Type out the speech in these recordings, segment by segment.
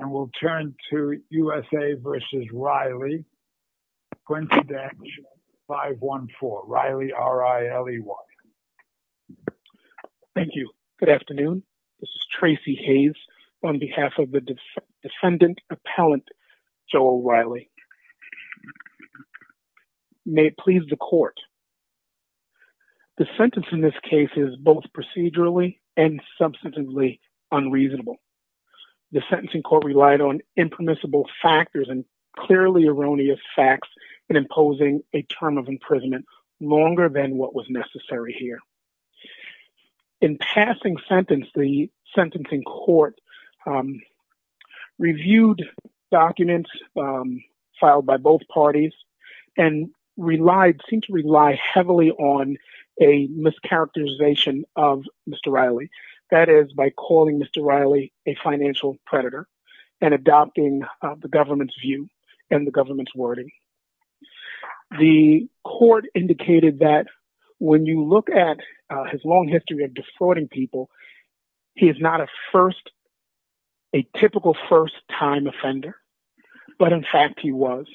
Thank you. Good afternoon. This is Tracy Hayes on behalf of the defendant appellant Joel Riley. May it please the court. The sentence in this case is both procedurally and substantively unreasonable. The sentencing court relied on impermissible factors and clearly erroneous facts in imposing a term of imprisonment longer than what was necessary here. In passing sentence, the sentencing court reviewed documents filed by both parties and relied, seemed to rely heavily on a mischaracterization of Mr. Riley. That is by calling Mr. Riley a financial predator and adopting the government's view and the government's wording. The court indicated that when you look at his long history of defrauding people, he is not a first, a typical first time offender. But in fact, he was.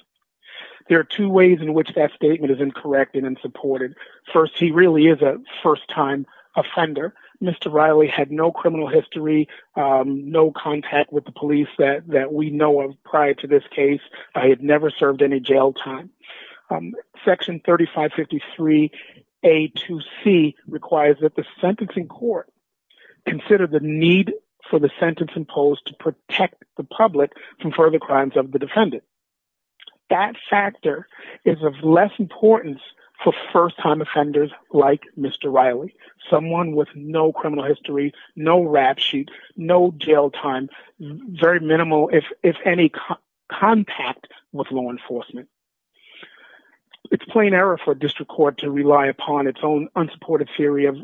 There are two ways in which that statement is incorrect and unsupported. First, he really is a first time offender. Mr. Riley had no criminal history, no contact with the police that we know of prior to this case. I had never served any jail time. Section 3553 A to C requires that the sentencing court consider the need for the sentence imposed to protect the public from further crimes of the defendant. That factor is of less importance for first time offenders like Mr. Riley, someone with no criminal history, no rap sheet, no jail time, very minimal, if any, contact with law enforcement. It's plain error for a district court to rely upon its own unsupported theory of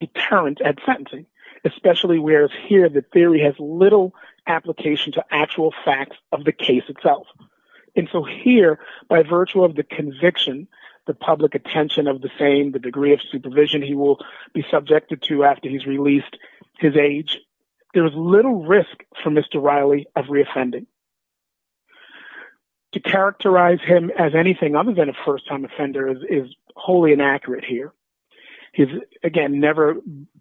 deterrent at sentencing, especially whereas here the theory has little application to actual facts of the case itself. And so here, by virtue of the conviction, the public attention of the same, the degree of supervision he will be subjected to after he's released his age, there is little risk for Mr. Riley of reoffending. To characterize him as anything other than a first time offender is wholly inaccurate here. He's, again, never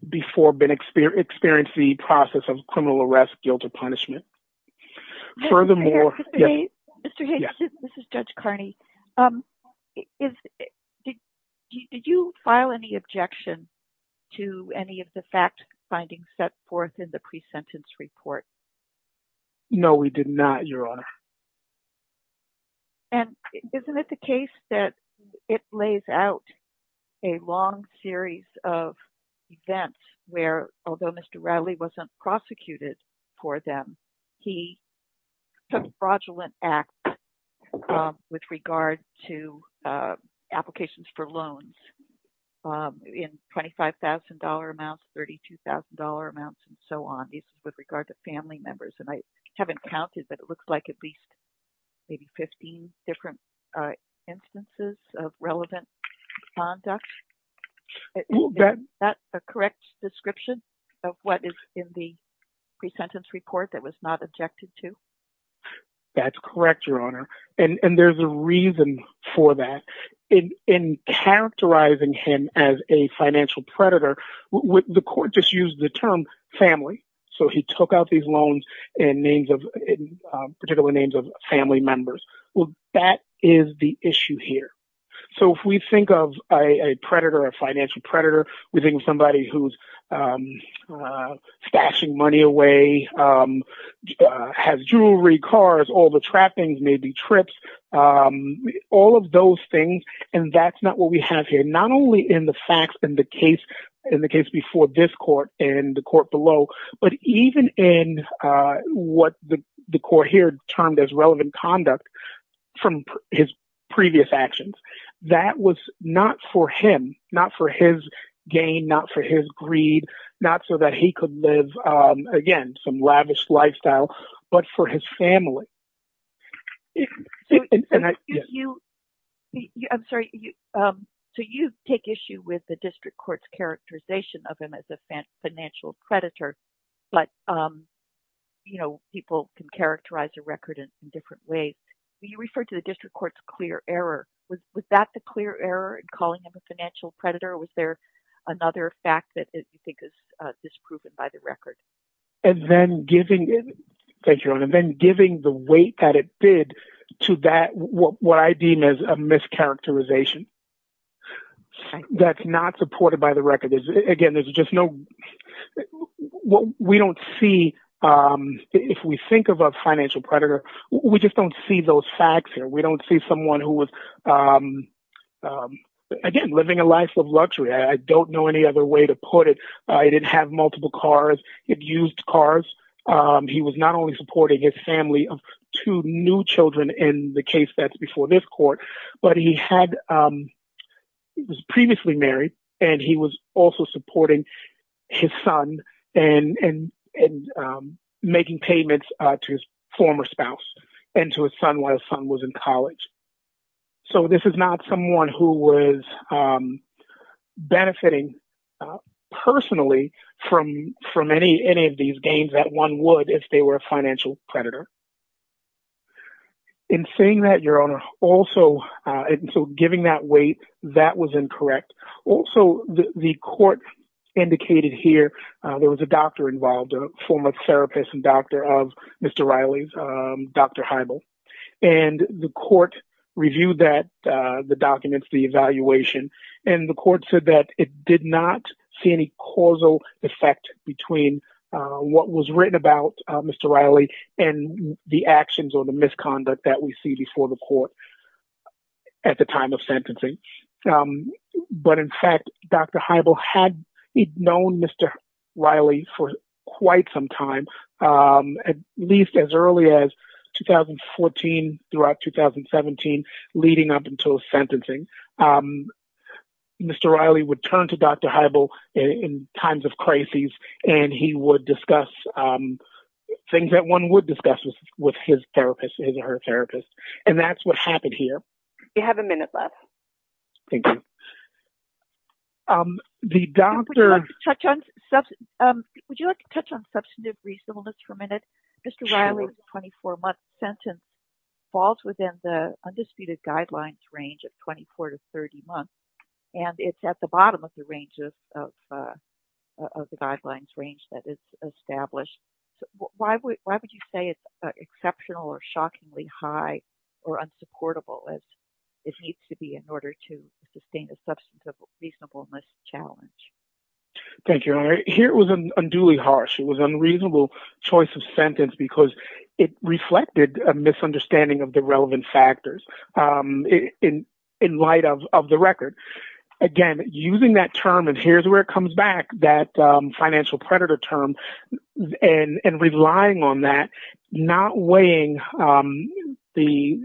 before been experienced the process of criminal arrest, guilt, or punishment. Furthermore, Mr. Hayes, this is Judge Carney. Did you file any objection to any of the fact findings set forth in the pre-sentence report? No, we did not, Your Honor. And isn't it the case that it lays out a long series of events where, although Mr. Riley wasn't prosecuted for them, he took fraudulent acts with regard to applications for loans in $25,000 amounts, $32,000 amounts, and so on, with regard to family members. And I haven't counted, but it looks like at least maybe 15 different instances of relevant conduct. Is that a correct description of what is in the pre-sentence report that was not objected to? That's correct, Your Honor. And there's a reason for that. In characterizing him as a financial predator, the court just used the term family. So he took out these loans in particular names of family members. Well, that is the issue here. So if we think of a predator, a financial predator, we think of somebody who's stashing money away, has jewelry, cars, all the trappings, maybe trips, all of those things. And that's not what we have here. Not only in the facts in the case before this court and the court below, but even in what the court here termed as relevant conduct from his previous actions. That was not for him, not for his gain, not for his greed, not so that he could live, again, some lavish lifestyle, but for his family. So you take issue with the district court's characterization of him as a financial predator, but people can characterize a record in different ways. You referred to the district court's clear error. Was that the clear error in calling him a financial predator? Was there another fact that you think is disproven by the record? And then giving the weight that it did to that, what I deem as a mischaracterization that's not supported by the record. Again, there's just no, if we think of a financial predator, we just don't see those facts here. We don't see someone who was again, living a life of luxury. I don't know any other way to put it. He didn't have multiple cars. He abused cars. He was not only supporting his family of two new children in the case that's before this court, but he was previously married and he was also supporting his son and making payments to his former spouse and to his son while his son was in college. So this is not someone who was benefiting personally from any of these games that one would, if they were a financial predator. In saying that your owner also, so giving that weight, that was incorrect. Also the court indicated here, there was a doctor court review that the documents, the evaluation, and the court said that it did not see any causal effect between what was written about Mr. Riley and the actions or the misconduct that we see before the court at the time of sentencing. But in fact, Dr. Heibel had known Mr. Riley for 2017 leading up until sentencing. Mr. Riley would turn to Dr. Heibel in times of crises and he would discuss things that one would discuss with his therapist, his or her therapist. And that's what happened here. We have a minute left. Thank you. The doctor... Would you like to touch on substantive reasonableness for a minute? Mr. Riley's 24 month sentence falls within the undisputed guidelines range of 24 to 30 months. And it's at the bottom of the range of the guidelines range that is established. Why would you say it's exceptional or shockingly high or unsupportable as it needs to be in order to sustain a substantive reasonableness challenge? Thank you. Here it was unduly harsh. It was because it reflected a misunderstanding of the relevant factors in light of the record. Again, using that term, and here's where it comes back, that financial predator term, and relying on that, not weighing the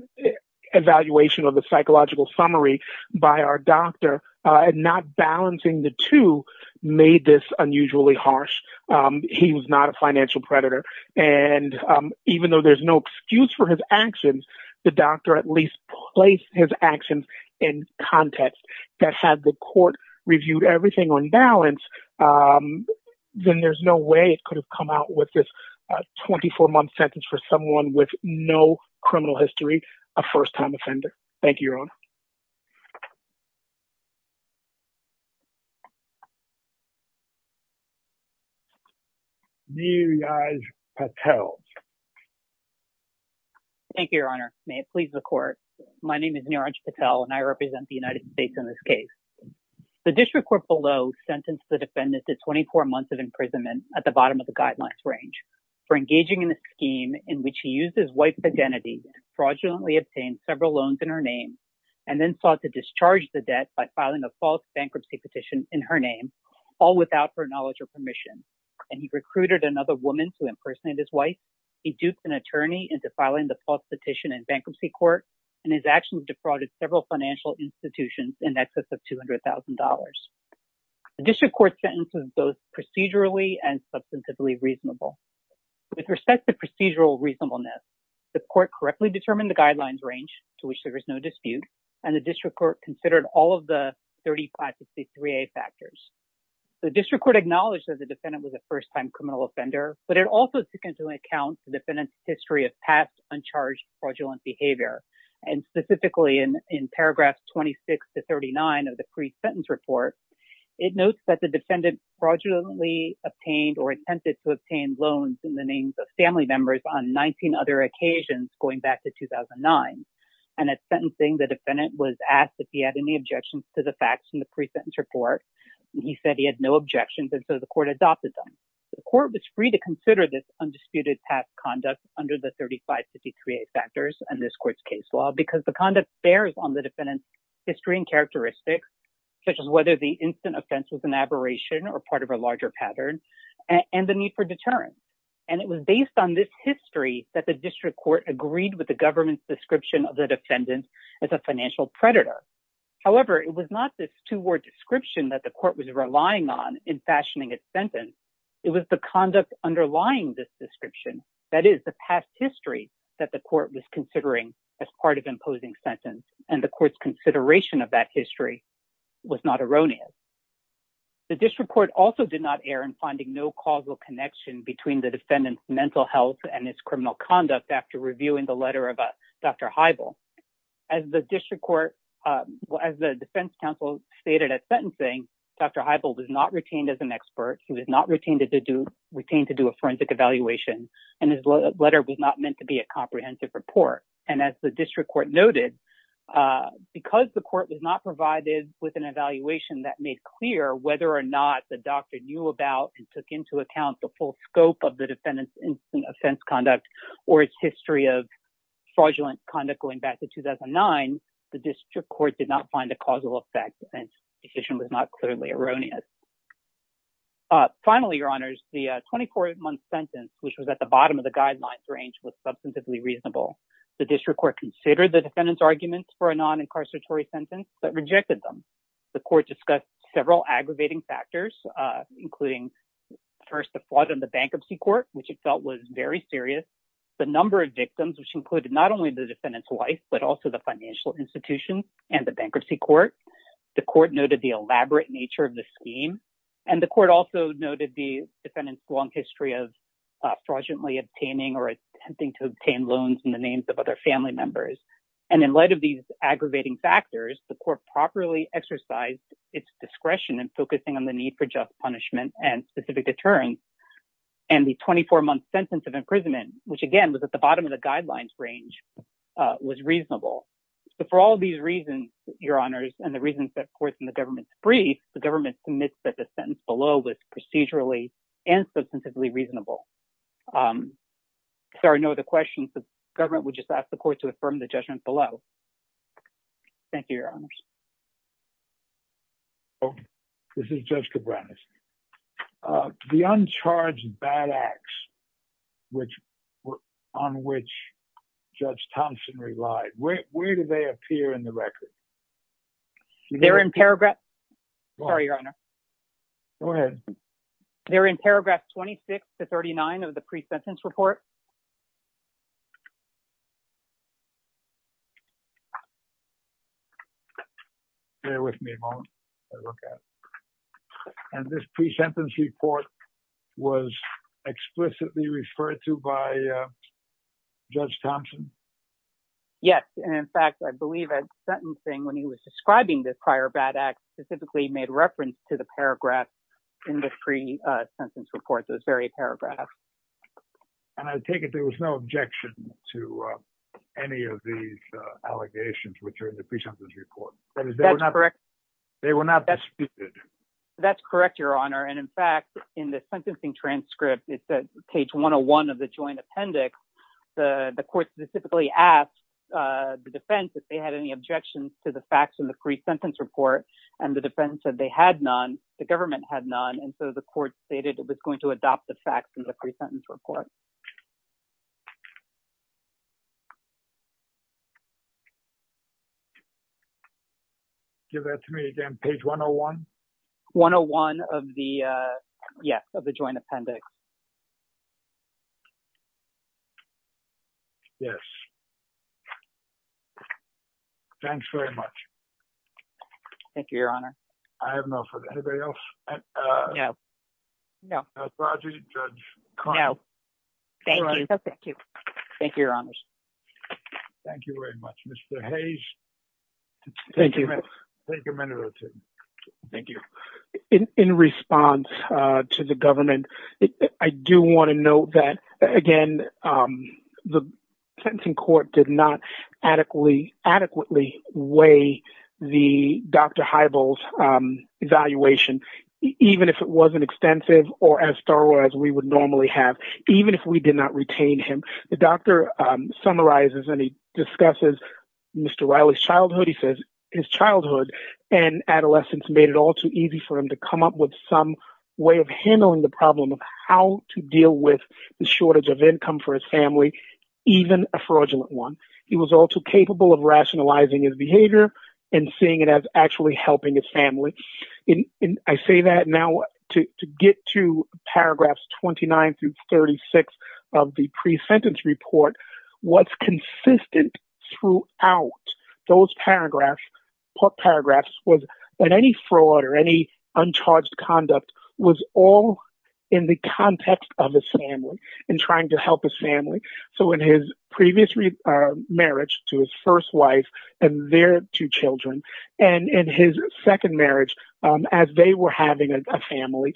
evaluation of the psychological summary by our doctor, and not balancing the two made this unusually harsh. He was not a financial predator. And even though there's no excuse for his actions, the doctor at least placed his actions in context that had the court reviewed everything on balance, then there's no way it could have come out with this 24 month sentence for someone with no criminal history, a first time offender. Thank you, Your Honor. Neeraj Patel. Thank you, Your Honor. May it please the court. My name is Neeraj Patel and I represent the United States in this case. The district court below sentenced the defendant to 24 months of imprisonment at the bottom of the guidelines range for engaging in a scheme in which he used his identity, fraudulently obtained several loans in her name, and then sought to discharge the debt by filing a false bankruptcy petition in her name, all without her knowledge or permission. And he recruited another woman to impersonate his wife. He duped an attorney into filing the false petition in bankruptcy court, and his actions defrauded several financial institutions in excess of $200,000. The district court sentences both procedurally and substantively reasonable. With respect to procedural reasonableness, the court correctly determined the guidelines range to which there is no dispute, and the district court considered all of the 35 to 63A factors. The district court acknowledged that the defendant was a first time criminal offender, but it also took into account the defendant's history of past uncharged fraudulent behavior. And specifically in paragraphs 26 to 39 of the pre-sentence report, it notes that the obtained loans in the names of family members on 19 other occasions going back to 2009. And at sentencing, the defendant was asked if he had any objections to the facts in the pre-sentence report. He said he had no objections, and so the court adopted them. The court was free to consider this undisputed past conduct under the 35 to 63A factors in this court's case law because the conduct bears on the defendant's history and characteristics, such as whether the instant offense was an aberration or part of a larger pattern, and the need for deterrence. And it was based on this history that the district court agreed with the government's description of the defendant as a financial predator. However, it was not this two-word description that the court was relying on in fashioning its sentence. It was the conduct underlying this description, that is the past history that the court was considering as part of imposing sentence, and the court's consideration of that history was not erroneous. The district court also did not err in finding no causal connection between the defendant's mental health and its criminal conduct after reviewing the letter of Dr. Heibel. As the defense counsel stated at sentencing, Dr. Heibel was not retained as an expert. He was not retained to do a forensic evaluation, and his letter was not meant to be a comprehensive report. And as the district court noted, because the court was not provided with an evaluation that made clear whether or not the doctor knew about and took into account the full scope of the defendant's instant offense conduct or its history of fraudulent conduct going back to 2009, the district court did not find a causal effect, and the decision was not clearly erroneous. Finally, your honors, the 24-month sentence, which was at the bottom of the reasonable. The district court considered the defendant's arguments for a non-incarceratory sentence, but rejected them. The court discussed several aggravating factors, including first, the fraud in the bankruptcy court, which it felt was very serious, the number of victims, which included not only the defendant's wife, but also the financial institutions and the bankruptcy court. The court noted the elaborate nature of the scheme, and the court also noted the defendant's history of fraudulently obtaining or attempting to obtain loans in the names of other family members. And in light of these aggravating factors, the court properly exercised its discretion in focusing on the need for just punishment and specific deterrence, and the 24-month sentence of imprisonment, which again was at the bottom of the guidelines range, was reasonable. So for all of these reasons, your honors, and the reasons that courts and the government's brief, the government submits that the sentence below was procedurally and substantively reasonable. Sorry, no other questions. The government would just ask the court to affirm the judgment below. Thank you, your honors. Oh, this is Judge Cabranes. The uncharged bad acts on which Judge Thompson relied, where do they appear in the record? They're in paragraph... Sorry, your honor. Go ahead. They're in paragraph 26 to 39 of the pre-sentence report. Bear with me a moment. And this pre-sentence report was explicitly referred to by Judge Thompson? Yes. And in fact, I believe that sentencing when he was describing this prior bad act specifically made reference to the paragraph in the pre-sentence report, those very paragraphs. And I take it there was no objection to any of these allegations which are in the pre-sentence report. That is correct. They were not disputed. That's correct, your honor. And in fact, in the sentencing transcript, it's page 101 of the joint appendix, the court specifically asked the defense if they had any objections to the facts in the pre-sentence report. And the defense said they had none, the government had none. And so the court stated it was going to adopt the facts in the pre-sentence report. Give that to me again, page 101? 101 of the, yes, of the joint appendix. Yes. Thanks very much. Thank you, your honor. I have no further, anybody else? No. No. Thank you. Thank you. Thank you, your honors. Thank you very much, Mr. Hayes. Thank you. Take a minute or two. Thank you. In response to the government, I do want to note that, again, the sentencing court did not adequately weigh the Dr. Heibel's evaluation, even if it wasn't extensive or as thorough as we would normally have, even if we did not retain him. The doctor summarizes and he discusses Mr. Riley's childhood. He says his childhood and adolescence made it all too easy for him to come up with some way of handling the problem of how to deal with the shortage of income for his family, even a fraudulent one. He was all too capable of rationalizing his behavior and seeing it as helping his family. I say that now to get to paragraphs 29 through 36 of the pre-sentence report, what's consistent throughout those paragraphs was that any fraud or any uncharged conduct was all in the context of his family and trying to help his family. In his previous marriage to his first wife and their two children, and in his second marriage as they were having a family,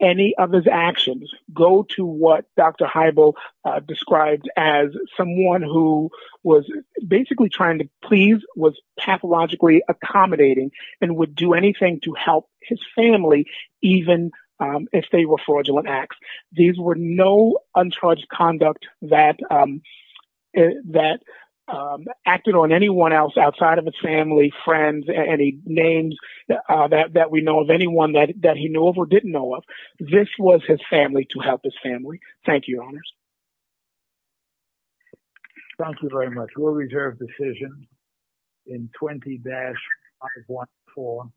any of his actions go to what Dr. Heibel described as someone who was basically trying to please, was pathologically accommodating, and would do anything to help his family, even if they were fraudulent acts. These were no uncharged conduct that acted on anyone else outside of his family, friends, any names that we know of, anyone that he knew of or didn't know of. This was his family to help his family. Thank you, Your Honors. Thank you very much. We'll reserve decision in 20-514.